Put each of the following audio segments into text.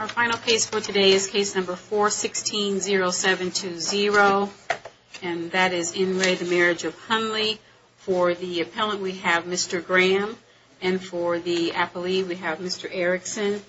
Our final case for today is case number 416-0720 and that is in re The Marriage of Hundley. For the appellant we have Mr. Graham and for the appellee we have Mr. Erickson.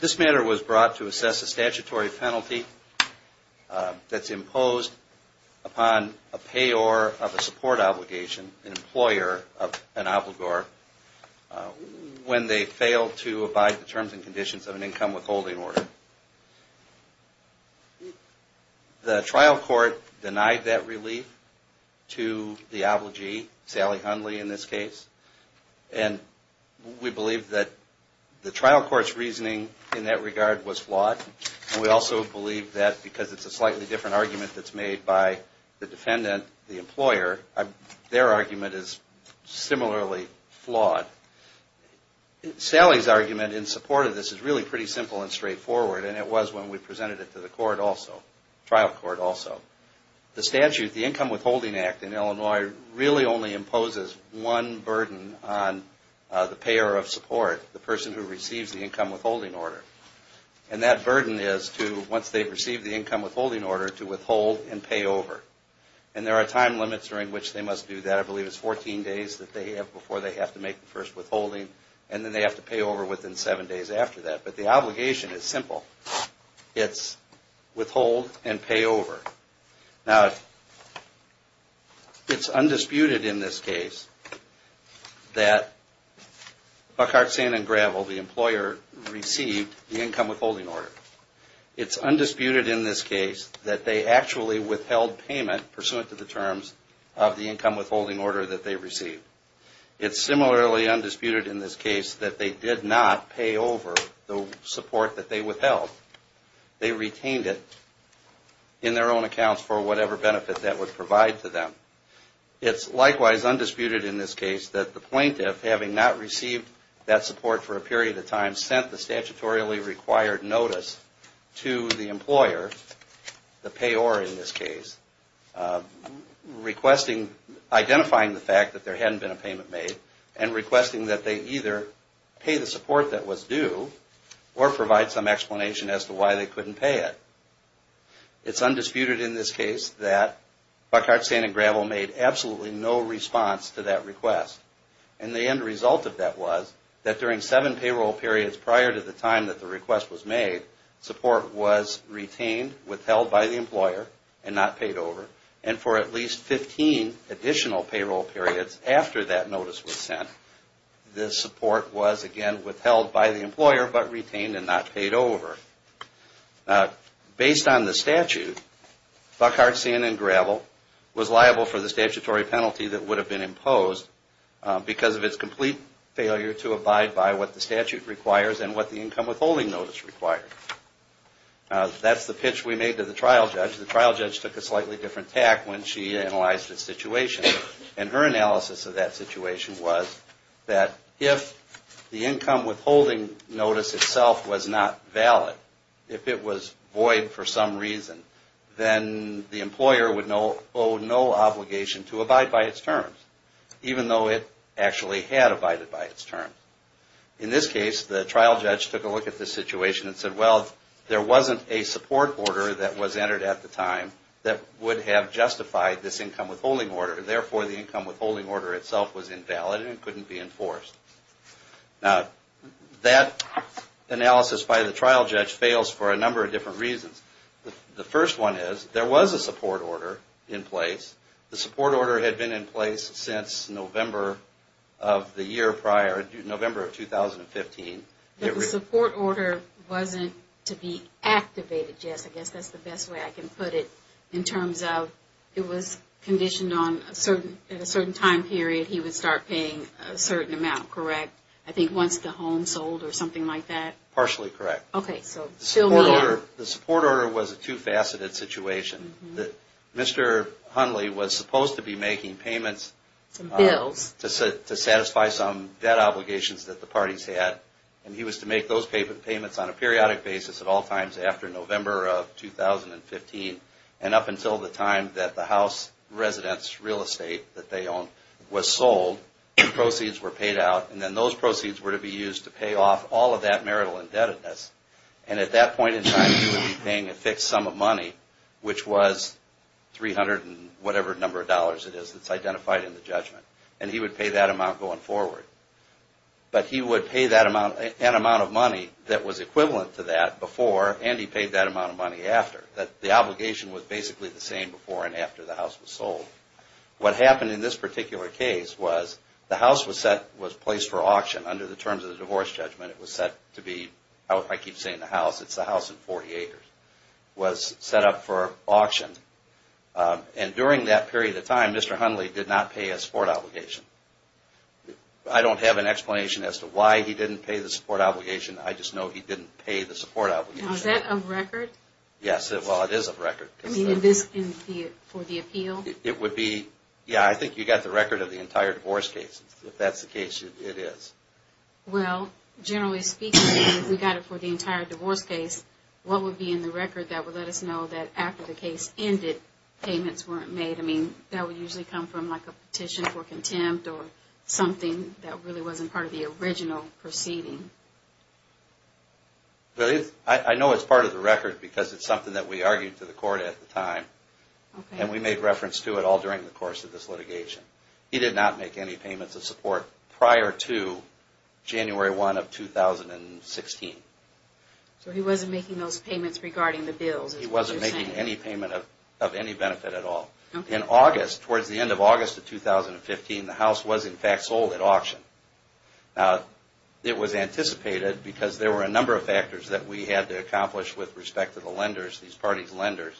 This matter was brought to assess a statutory penalty that's imposed upon a payor of a support obligation, an employer, of a an obligor when they fail to abide the terms and conditions of an income withholding order. The trial court denied that relief to the obligee, Sally Hundley in this case, and we believe that the trial court's reasoning in that regard was flawed. We also believe that because it's a slightly different argument that's made by the defendant, the employer, their argument is similarly flawed. Sally's argument in support of this is really pretty simple and straightforward and it was when we presented it to the court also, trial court also. The statute, the Income Withholding Act in Illinois, really only imposes one burden on the payor of support, the person who receives the income withholding order. And that burden is to, once they receive the income withholding order, to withhold and pay over. And there are time limits during which they must do that. I believe it's 14 days that they have before they have to make the first withholding and then they have to pay over within seven days after that. But the obligation is simple. It's withhold and pay over. Now, it's undisputed in this case that Buckhart, Sand and Gravel, the employer, received the income withholding order. It's undisputed in this case that they actually withheld payment pursuant to the terms of the income withholding order that they received. It's similarly undisputed in this case that they did not pay over the support that they withheld. They retained it in their own accounts for whatever benefit that would provide to them. It's likewise undisputed in this case that the plaintiff, having not received that support for a period of time, sent the statutorily required notice to the employer, the payor in this case, requesting, identifying the fact that there hadn't been a payment made and requesting that they either pay the support that was due or provide some explanation as to why they couldn't pay it. It's undisputed in this case that Buckhart, Sand and Gravel, after the request was made, support was retained, withheld by the employer, and not paid over. And for at least 15 additional payroll periods after that notice was sent, the support was again withheld by the employer but retained and not paid over. Based on the statute, Buckhart, Sand and Gravel was liable for the statutory penalty that would have been imposed because of its complete failure to abide by what the statute requires and what the income withholding notice required. That's the pitch we made to the trial judge. The trial judge took a slightly different tack when she analyzed the situation. And her analysis of that situation to abide by its terms, even though it actually had abided by its terms. In this case, the trial judge took a look at the situation and said, well, there wasn't a support order that was entered at the time that would have justified this income withholding order. Therefore, the income withholding order itself was invalid and couldn't be enforced. Now, that analysis by the trial judge fails for a number of different reasons. The first one is, there was a support order in place. The support order had been in place since November of the year prior, November of 2015. But the support order wasn't to be activated, Jess. I guess that's the best way I can put it in terms of it was conditioned on a certain time period he would start paying a certain amount, correct? I think once the home sold or something like that? Partially correct. The support order was a two-faceted situation. Mr. Hundley was supposed to be making payments to satisfy some debt obligations that the parties had. And he was to make those payments on a periodic basis at all times after November of 2015. And up until the time that the house residents' real estate that they owned was sold, the proceeds were paid out. And then those proceeds were to be used to pay off all of that marital indebtedness. And at that point in time, he would be paying a fixed sum of money, which was $300 and whatever number of dollars it is that's identified in the judgment. And he would pay that amount going forward. But he would pay an amount of money that was equivalent to that before, and he paid that amount of money after. The obligation was basically the same before and after the house was sold. What happened in this particular case was the house was placed for auction under the terms of the divorce judgment. It was set to be, I keep saying the house, it's the house in 40 acres, was set up for auction. And during that period of time, Mr. Hundley did not pay a support obligation. I don't have an explanation as to why he didn't pay the support obligation. I just know he didn't pay the support obligation. Now, is that a record? Yes, well, it is a record. I mean, is this for the appeal? It would be, yeah, I think you got the record of the entire divorce case, if that's the case it is. Well, generally speaking, if we got it for the entire divorce case, what would be in the record that would let us know that after the case ended, payments weren't made? I mean, that would usually come from like a petition for contempt or something that really wasn't part of the original proceeding. I know it's part of the record because it's something that we argued to the court at the time, and we made reference to it all during the course of this litigation. He did not make any payments of support prior to January 1 of 2016. So he wasn't making those payments regarding the bills is what you're saying? No, he wasn't making any payment of any benefit at all. In August, towards the end of August of 2015, the house was in fact sold at auction. Now, it was anticipated because there were a number of factors that we had to accomplish with respect to the lenders, these parties' lenders,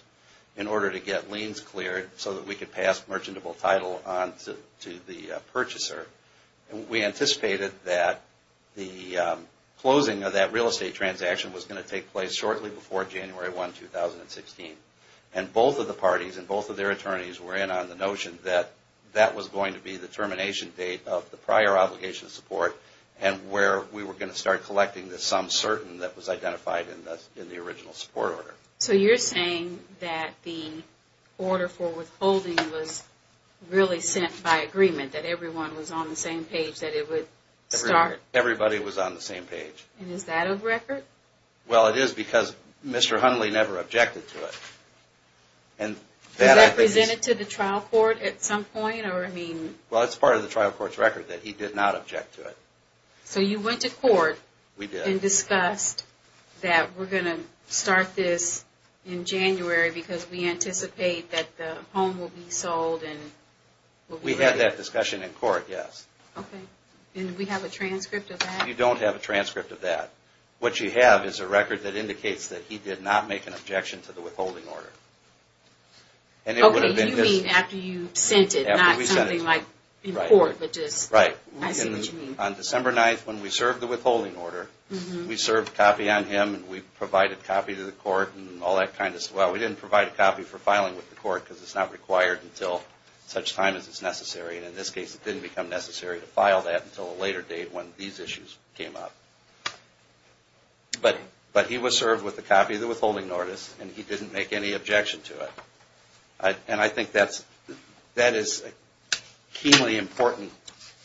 in order to get liens cleared so that we could pass merchantable title on to the purchaser. We anticipated that the closing of that real estate transaction was going to take place shortly before January 1, 2016. And both of the parties and both of their attorneys were in on the notion that that was going to be the termination date of the prior obligation of support and where we were going to start collecting the sum certain that was identified in the original support order. So you're saying that the order for withholding was really sent by agreement, that everyone was on the same page that it would start? Everybody was on the same page. And is that a record? Well, it is because Mr. Hundley never objected to it. Was that presented to the trial court at some point? Well, it's part of the trial court's record that he did not object to it. So you went to court and discussed that we're going to start this in January because we anticipate that the home will be sold and will be ready? We had that discussion in court, yes. Okay. And we have a transcript of that? You don't have a transcript of that. What you have is a record that indicates that he did not make an objection to the withholding order. Okay, you mean after you sent it, not something like in court, but just, I see what you mean. On December 9th, when we served the withholding order, we served a copy on him and we provided a copy to the court and all that kind of stuff. Well, we didn't provide a copy for filing with the court because it's not required until such time as it's necessary. And in this case, it didn't become necessary to file that until a later date when these issues came up. But he was served with a copy of the withholding notice and he didn't make any objection to it. And I think that is a keenly important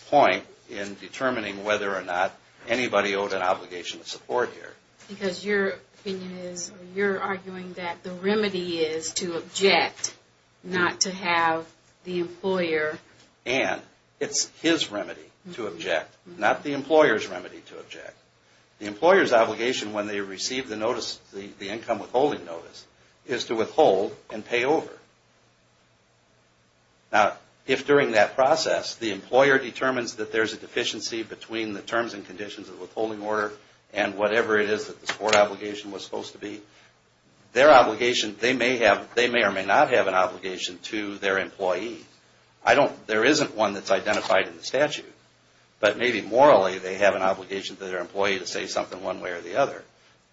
point in determining whether or not anybody owed an obligation of support here. Because your opinion is, you're arguing that the remedy is to object, not to have the employer... And it's his remedy to object, not the employer's remedy to object. The employer's obligation when they receive the notice, the income withholding notice, is to withhold and pay over. Now, if during that process, the employer determines that there's a deficiency between the terms and conditions of the withholding order and whatever it is that the support obligation was supposed to be, their obligation, they may or may not have an obligation to their employee. There isn't one that's identified in the statute, but maybe morally they have an obligation to their employee to say something one way or the other.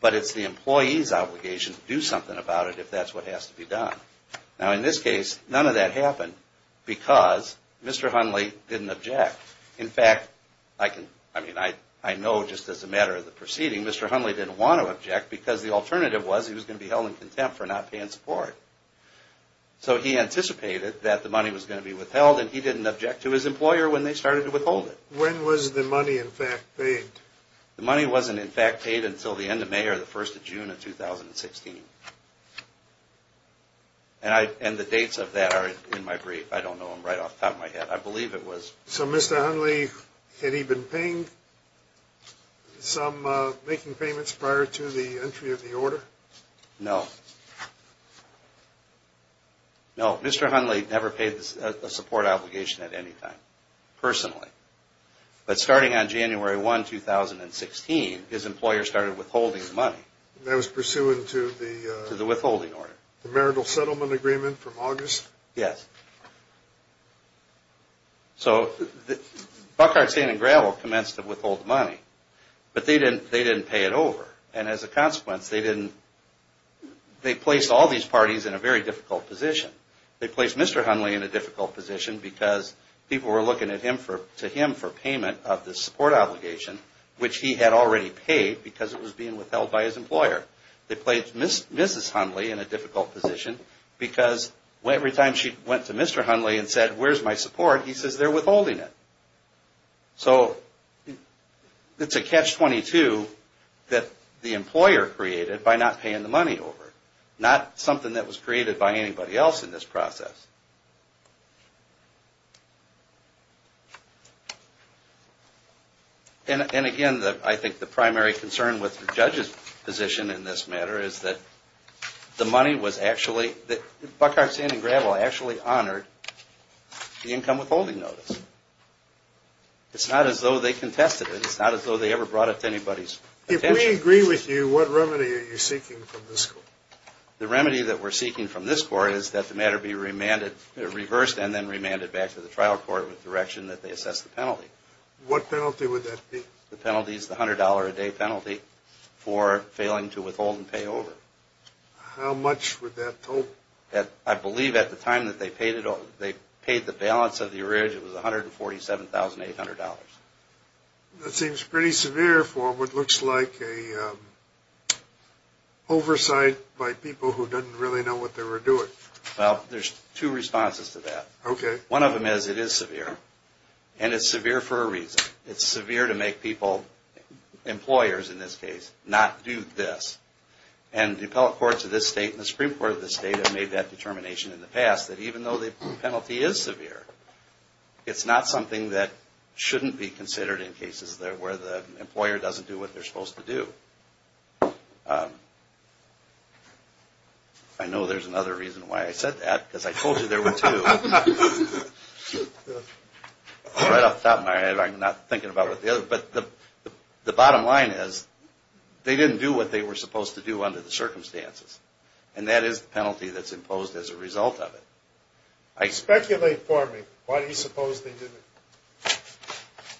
But it's the employee's obligation to do something about it if that's what has to be done. Now, in this case, none of that happened because Mr. Hunley didn't object. In fact, I know just as a matter of the proceeding, Mr. Hunley didn't want to object because the alternative was he was going to be held in contempt for not paying support. So he anticipated that the money was going to be withheld, and he didn't object to his employer when they started to withhold it. When was the money in fact paid? The money wasn't in fact paid until the end of May or the first of June of 2016. And the dates of that are in my brief. I don't know them right off the top of my head. I believe it was... So Mr. Hunley, had he been paying some... making payments prior to the entry of the order? No. No, Mr. Hunley never paid a support obligation at any time, personally. But starting on January 1, 2016, his employer started withholding the money. And that was pursuant to the... To the withholding order. The marital settlement agreement from August? Yes. So, Buckhart, Sand and Gravel commenced to withhold the money. But they didn't pay it over. And as a consequence, they didn't... They placed all these parties in a very difficult position. They placed Mr. Hunley in a difficult position because people were looking to him for payment of the support obligation, which he had already paid because it was being withheld by his employer. They placed Mrs. Hunley in a difficult position because every time she went to Mr. Hunley and said, where's my support, he says, they're withholding it. So, it's a catch-22 that the employer created by not paying the money over. Not something that was created by anybody else in this process. And again, I think the primary concern with the judge's position in this matter is that the money was actually... Buckhart, Sand and Gravel actually honored the income withholding notice. It's not as though they contested it. It's not as though they ever brought it to anybody's attention. If we agree with you, what remedy are you seeking from this court? The remedy that we're seeking from this court is that the matter be reversed and then remanded back to the trial court with direction that they assess the penalty. What penalty would that be? The penalty is the $100 a day penalty for failing to withhold and pay over. How much would that total? I believe at the time that they paid the balance of the arrears, it was $147,800. That seems pretty severe for what looks like an oversight by people who don't really know what they're doing. Well, there's two responses to that. One of them is it is severe. And it's severe for a reason. It's severe to make people, employers in this case, not do this. And the appellate courts of this state and the Supreme Court of this state have made that determination in the past that even though the penalty is severe, it's not something that shouldn't be considered in cases where the employer doesn't do what they're supposed to do. I know there's another reason why I said that, because I told you there were two. Right off the top of my head, I'm not thinking about what the other, but the bottom line is they didn't do what they were supposed to do under the circumstances. And that is the penalty that's imposed as a result of it. Speculate for me. Why do you suppose they didn't?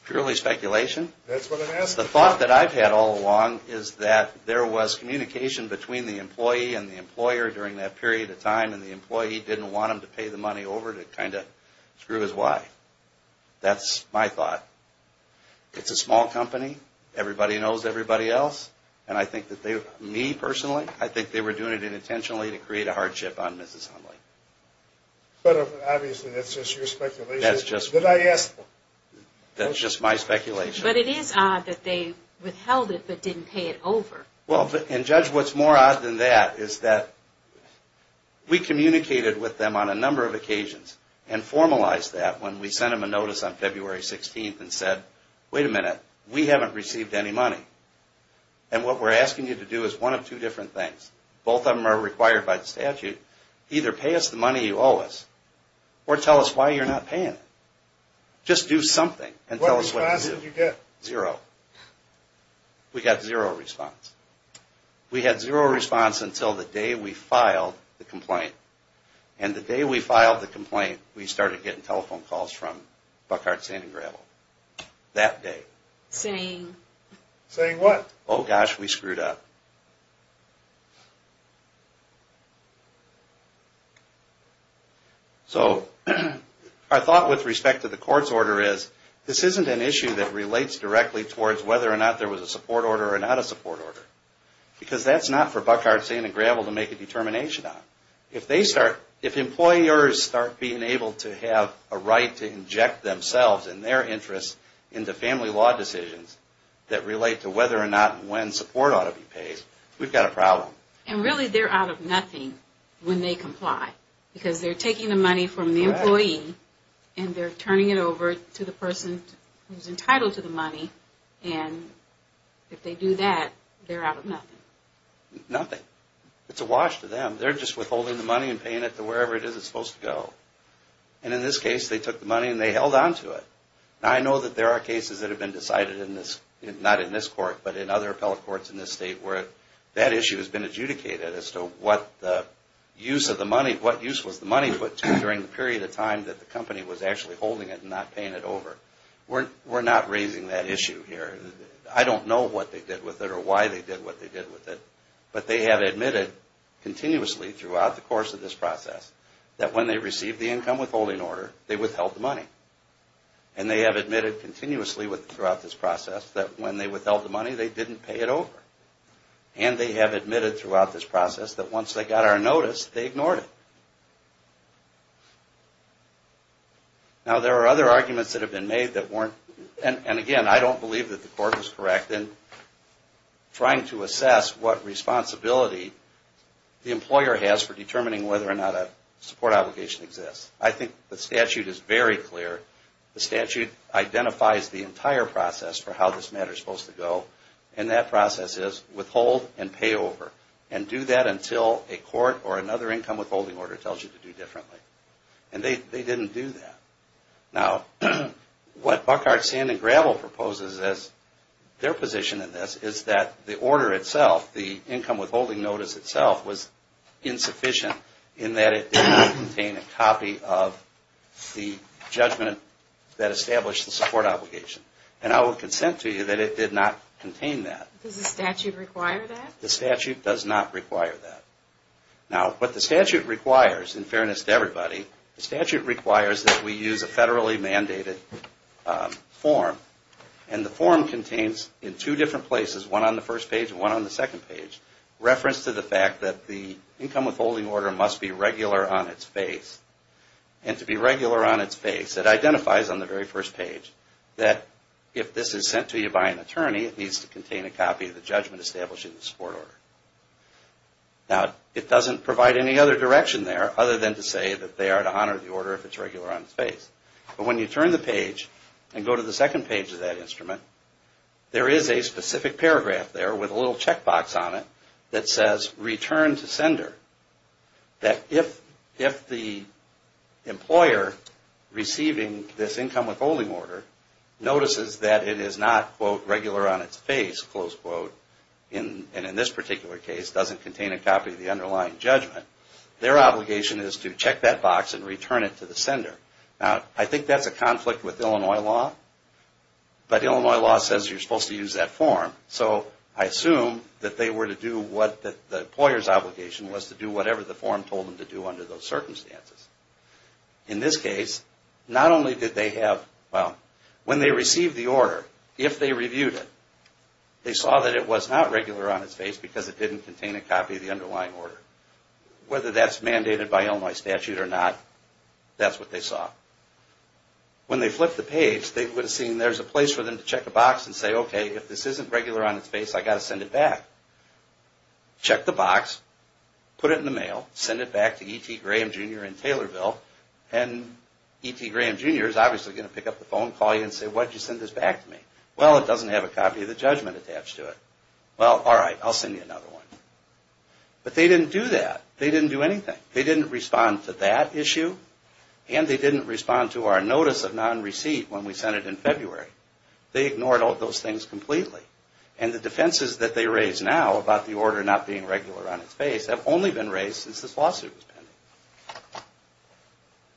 Purely speculation. That's what I'm asking. The thought that I've had all along is that there was communication between the employee and the employer during that period of time, and the employee didn't want them to pay the money over to kind of screw his wife. That's my thought. It's a small company. Everybody knows everybody else. Me, personally, I think they were doing it unintentionally to create a hardship on Mrs. Hundley. But obviously that's just your speculation. That's just my speculation. But it is odd that they withheld it but didn't pay it over. Well, and Judge, what's more odd than that is that we communicated with them on a number of occasions and formalized that when we sent them a notice on February 16th and said, wait a minute, we haven't received any money. And what we're asking you to do is one of two different things. Both of them are required by the statute. Either pay us the money you owe us or tell us why you're not paying it. Just do something and tell us what to do. What response did you get? Zero. We got zero response. We had zero response until the day we filed the complaint. And the day we filed the complaint, we started getting telephone calls from Buckhart, Sand & Gravel. That day. Saying? Saying what? Oh, gosh, we screwed up. So our thought with respect to the court's order is this isn't an issue that relates directly towards whether or not there was a support order or not a support order. Because that's not for Buckhart, Sand & Gravel to make a determination on. If they start, if employers start being able to have a right to inject themselves and their interests into family law decisions that relate to whether or not and when support ought to be paid, we've got a problem. And really they're out of nothing when they comply. Because they're taking the money from the employee and they're turning it over to the person who's entitled to the money. And if they do that, they're out of nothing. Nothing. It's a wash to them. They're just withholding the money and paying it to wherever it is it's supposed to go. And in this case, they took the money and they held on to it. Now, I know that there are cases that have been decided in this, not in this court, but in other appellate courts in this state where that issue has been adjudicated as to what the use of the money, what use was the money put to during the period of time that the company was actually holding it and not paying it over. We're not raising that issue here. I don't know what they did with it or why they did what they did with it, but they have admitted continuously throughout the course of this process that when they received the income withholding order, they withheld the money. And they have admitted continuously throughout this process that when they withheld the money, they didn't pay it over. And they have admitted throughout this process that once they got our notice, they ignored it. Now, there are other arguments that have been made that weren't, and again, I don't believe that the court was correct in trying to assess what responsibility the employer has for determining whether or not a support obligation exists. I think the statute is very clear. The statute identifies the entire process for how this matter is supposed to go, and that process is withhold and pay over. And do that until a court or another income withholding order tells you to do differently. And they didn't do that. Now, what Buckhart, Sand and Gravel proposes as their position in this is that the order itself, the income withholding notice itself was insufficient in that it did not contain a copy of the judgment that established the support obligation. And I will consent to you that it did not contain that. Does the statute require that? The statute does not require that. Now, what the statute requires, in fairness to everybody, the statute requires that we use a federally mandated form. And the form contains in two different places, one on the first page and one on the second page, reference to the fact that the income withholding order must be regular on its face. And to be regular on its face, it identifies on the very first page that if this is issued by an attorney, it needs to contain a copy of the judgment establishing the support order. Now, it doesn't provide any other direction there other than to say that they are to honor the order if it's regular on its face. But when you turn the page and go to the second page of that instrument, there is a specific paragraph there with a little checkbox on it that says return to sender. That if the employer receiving this income withholding order notices that it is not, quote, regular on its face, close quote, and in this particular case, doesn't contain a copy of the underlying judgment, their obligation is to check that box and return it to the sender. Now, I think that's a conflict with Illinois law. But Illinois law says you're supposed to use that form. So I assume that they were to do what the employer's obligation was to do whatever the form told them to do under those circumstances. In this case, not only did they have, well, when they received the order, if they reviewed it, they saw that it was not regular on its face because it didn't contain a copy of the underlying order. Whether that's mandated by Illinois statute or not, that's what they saw. When they flipped the page, they would have seen there's a place for them to check a box and say, okay, if this isn't regular on its face, I've got to send it back. Check the box, put it in the mail, send it back to E.T. Graham, Jr. in Taylorville, and E.T. Graham, Jr. is obviously going to pick up the phone, call you and say, why did you send this back to me? Well, it doesn't have a copy of the judgment attached to it. Well, all right, I'll send you another one. But they didn't do that. They didn't do anything. They didn't respond to that issue, and they didn't respond to our notice of non-receipt when we sent it in February. They ignored all those things completely. And the defenses that they raise now about the order not being regular on its face have only been raised since this lawsuit was pending.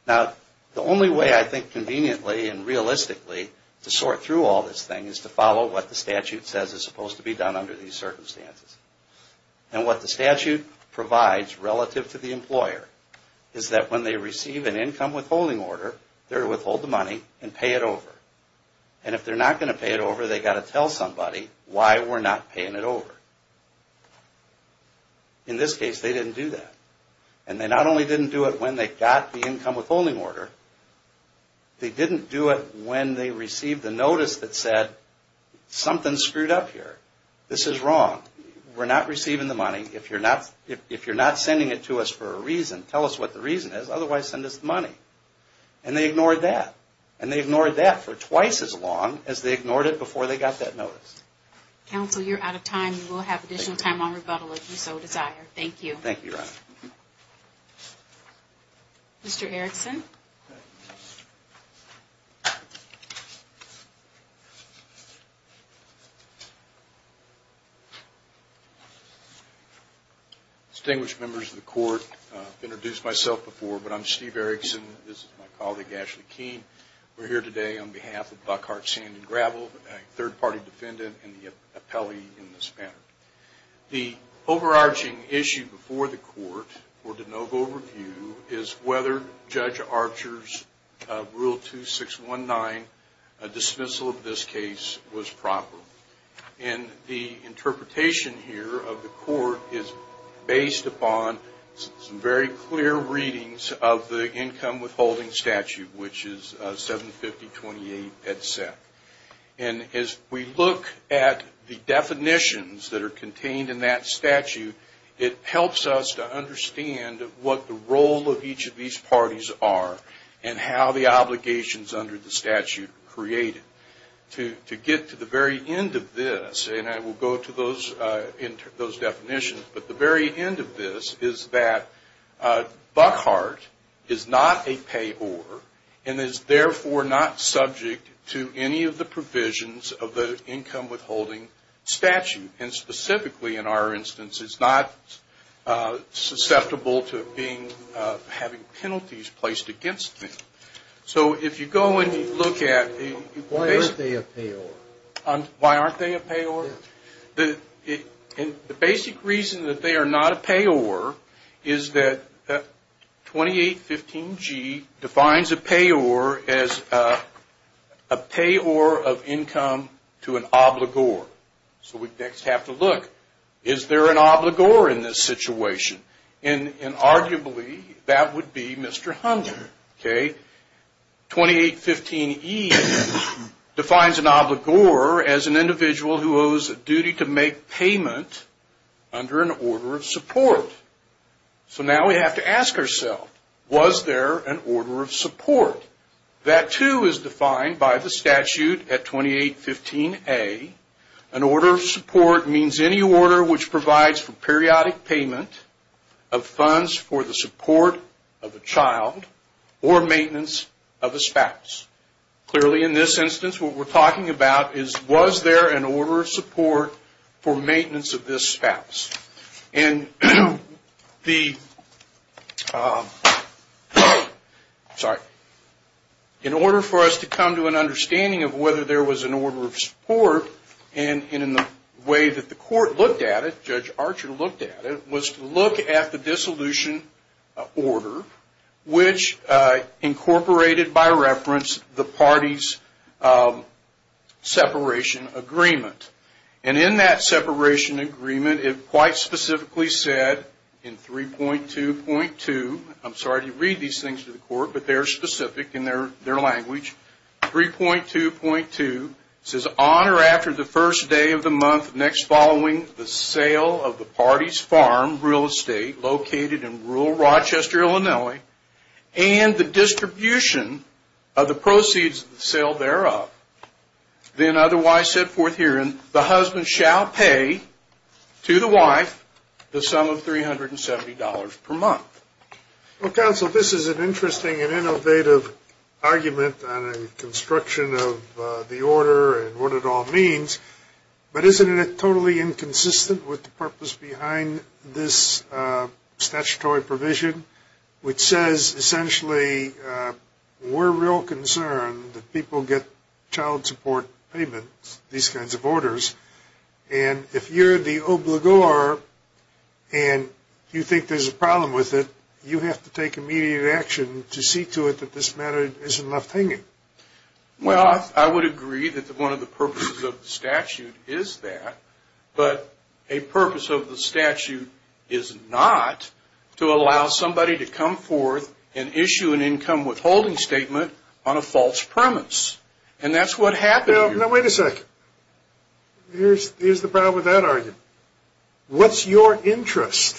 Now, the only way I think conveniently and realistically to sort through all this thing is to follow what the statute says is supposed to be done under these circumstances. And what the statute provides relative to the employer is that when they receive an income withholding order, they're to withhold the money and pay it over. And if they're not going to pay it over, they've got to tell somebody why we're not paying it over. In this case, they didn't do that. And they not only didn't do it when they got the income withholding order, they didn't do it when they received the notice that said, something's screwed up here. This is wrong. We're not receiving the money. If you're not sending it to us for a reason, tell us what the reason is. Otherwise, send us the money. And they ignored that. And they ignored that for twice as long as they ignored it before they got that notice. Counsel, you're out of time. We'll have additional time on rebuttal if you so desire. Thank you. Thank you, Your Honor. Mr. Erickson. Distinguished members of the court, I've introduced myself before, but I'm Steve Erickson. This is my colleague, Ashley Keene. We're here today on behalf of Buckhart Sand & Gravel, a third-party defendant and the appellee in this matter. The overarching issue before the court for de novo review is whether Judge Archer's Rule 2619 dismissal of this case was proper. And the interpretation here of the court is based upon some very clear readings of the income withholding statute, which is 75028 headset. And as we look at the definitions that are contained in that statute, it helps us to understand what the role of each of these parties are and how the obligations under the statute create it. To get to the very end of this, and I will go to those definitions, but the very end of this is that Buckhart is not a payor and is therefore not subject to any of the provisions of the income withholding statute. And specifically, in our instance, is not susceptible to having penalties placed against him. So if you go and you look at the basic. Why aren't they a payor? Why aren't they a payor? The basic reason that they are not a payor is that 2815G defines a payor as a payor of income to an obligor. So we next have to look. Is there an obligor in this situation? And arguably, that would be Mr. Hunter. 2815E defines an obligor as an individual who owes a duty to make payment under an order of support. So now we have to ask ourselves, was there an order of support? That too is defined by the statute at 2815A. An order of support means any order which provides for periodic payment of maintenance of a spouse. Clearly, in this instance, what we're talking about is, was there an order of support for maintenance of this spouse? And in order for us to come to an understanding of whether there was an order of support and in the way that the court looked at it, Judge Archer looked at it, was to look at the dissolution order, which incorporated by reference the parties' separation agreement. And in that separation agreement, it quite specifically said in 3.2.2, I'm sorry to read these things to the court, but they're specific in their language, 3.2.2, it says, on or after the first day of the month, the next following the sale of the party's farm, real estate, located in rural Rochester, Illinois, and the distribution of the proceeds of the sale thereof, then otherwise set forth herein, the husband shall pay to the wife the sum of $370 per month. Well, counsel, this is an interesting and innovative argument on a construction of the order and what it all means, but isn't it totally inconsistent with the purpose behind this statutory provision, which says essentially we're real concerned that people get child support payments, these kinds of orders, and if you're the obligor and you think there's a problem with it, you have to take immediate action to see to it that this matter isn't left hanging. Well, I would agree that one of the purposes of the statute is that, but a purpose of the statute is not to allow somebody to come forth and issue an income withholding statement on a false premise. And that's what happened here. Now, wait a second. Here's the problem with that argument. What's your interest?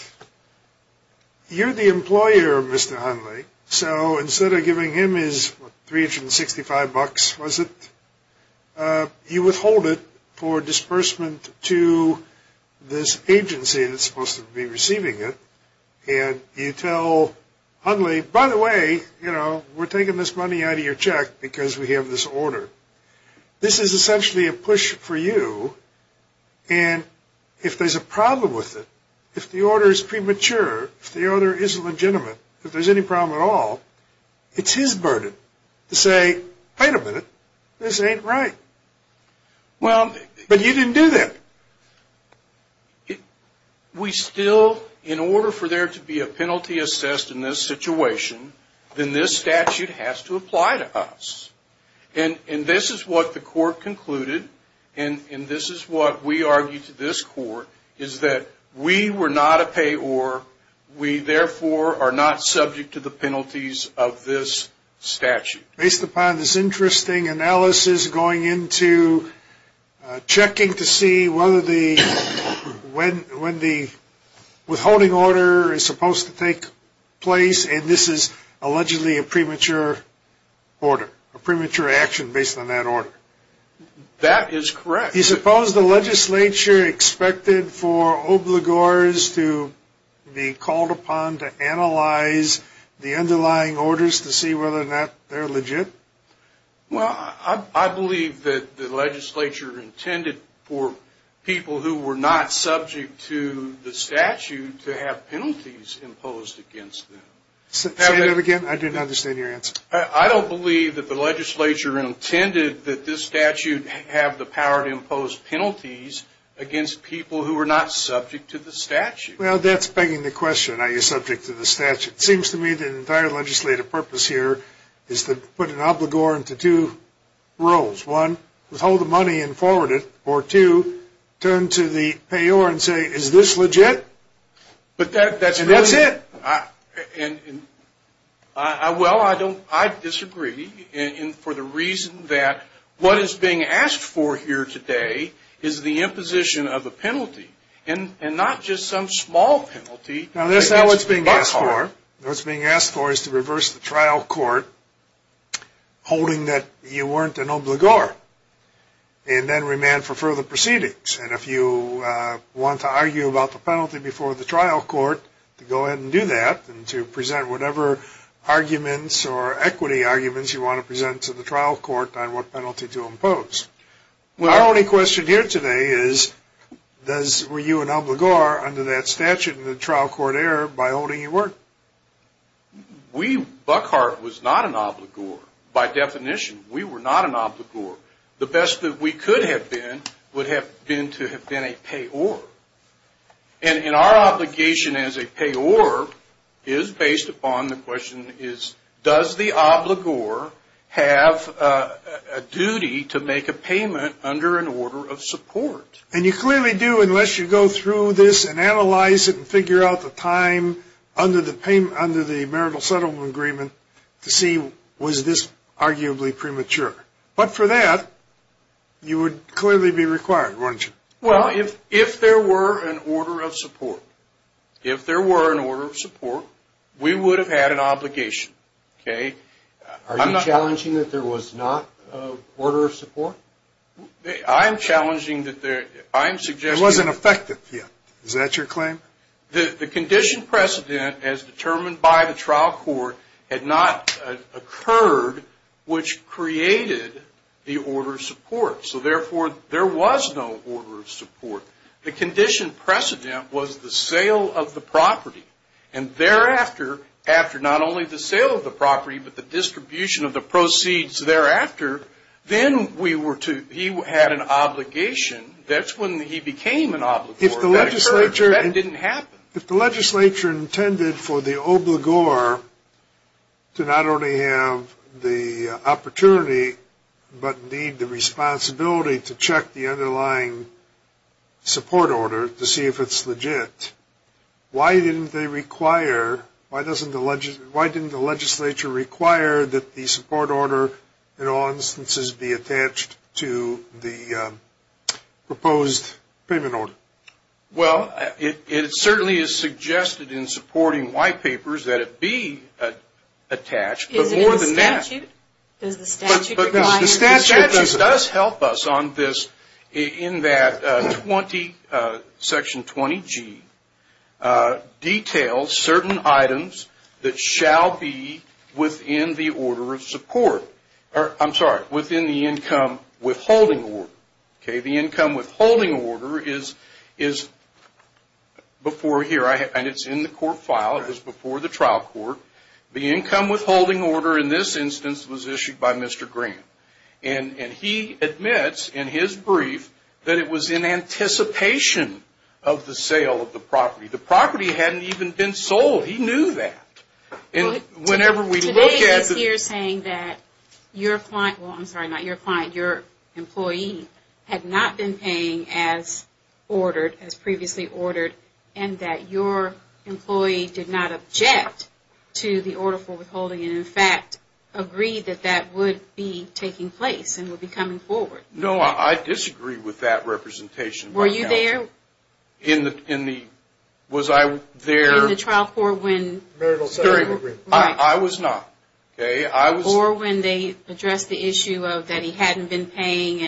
You're the employer, Mr. Hunley, so instead of giving him his $365, you withhold it for disbursement to this agency that's supposed to be receiving it, and you tell Hunley, by the way, we're taking this money out of your check because we have this order. This is essentially a push for you, and if there's a problem with it, if the order is premature, if the order isn't legitimate, if there's any problem at all, it's his burden to say, wait a minute, this ain't right. But you didn't do that. We still, in order for there to be a penalty assessed in this situation, then this statute has to apply to us. And this is what the court concluded, and this is what we argue to this court, is that we were not a payor. We, therefore, are not subject to the penalties of this statute. Based upon this interesting analysis going into checking to see whether the withholding order is supposed to take place, and this is allegedly a premature order, a premature action based on that order. That is correct. Do you suppose the legislature expected for obligors to be called upon to analyze the underlying orders to see whether or not they're legit? Well, I believe that the legislature intended for people who were not subject to the statute to have penalties imposed against them. Say that again. I didn't understand your answer. I don't believe that the legislature intended that this statute have the power to impose penalties against people who were not subject to the statute. Well, that's begging the question. Are you subject to the statute? It seems to me the entire legislative purpose here is to put an obligor into two roles. One, withhold the money and forward it, or two, turn to the payor and say, is this legit? And that's it. Well, I disagree for the reason that what is being asked for here today is the imposition of a penalty and not just some small penalty. Now, that's not what's being asked for. What's being asked for is to reverse the trial court holding that you weren't an obligor and then remand for further proceedings. And if you want to argue about the penalty before the trial court, to go ahead and do that and to present whatever arguments or equity arguments you want to present to the trial court on what penalty to impose. Our only question here today is were you an obligor under that statute in the trial court era by holding your word? We, Buckhart, was not an obligor. By definition, we were not an obligor. The best that we could have been would have been to have been a payor. And our obligation as a payor is based upon the question, does the obligor have a duty to make a payment under an order of support? And you clearly do unless you go through this and analyze it and figure out the time under the marital settlement agreement to see was this arguably premature. But for that, you would clearly be required, wouldn't you? Well, if there were an order of support, if there were an order of support, we would have had an obligation, okay? Are you challenging that there was not an order of support? I am challenging that there – I am suggesting – It wasn't effective yet. Is that your claim? The condition precedent as determined by the trial court had not occurred, which created the order of support. So, therefore, there was no order of support. The condition precedent was the sale of the property. And thereafter, after not only the sale of the property, but the distribution of the proceeds thereafter, then we were to – he had an obligation. That's when he became an obligor. That didn't happen. If the legislature intended for the obligor to not only have the opportunity, but indeed the responsibility to check the underlying support order to see if it's legit, why didn't they require – why didn't the legislature require that the support order, in all instances, be attached to the proposed payment order? Well, it certainly is suggested in supporting white papers that it be attached. But more than that – Is it in the statute? Does the statute require – I'm sorry, within the income withholding order. The income withholding order is before here. And it's in the court file. It was before the trial court. The income withholding order in this instance was issued by Mr. Graham. And he admits in his brief that it was in anticipation of the sale of the property. The property hadn't even been sold. He knew that. Today he's here saying that your client – well, I'm sorry, not your client, your employee had not been paying as ordered, as previously ordered, and that your employee did not object to the order for withholding and, in fact, agreed that that would be taking place and would be coming forward. No, I disagree with that representation. Were you there? In the – was I there? In the trial court when – I was not. Or when they addressed the issue of that he hadn't been paying.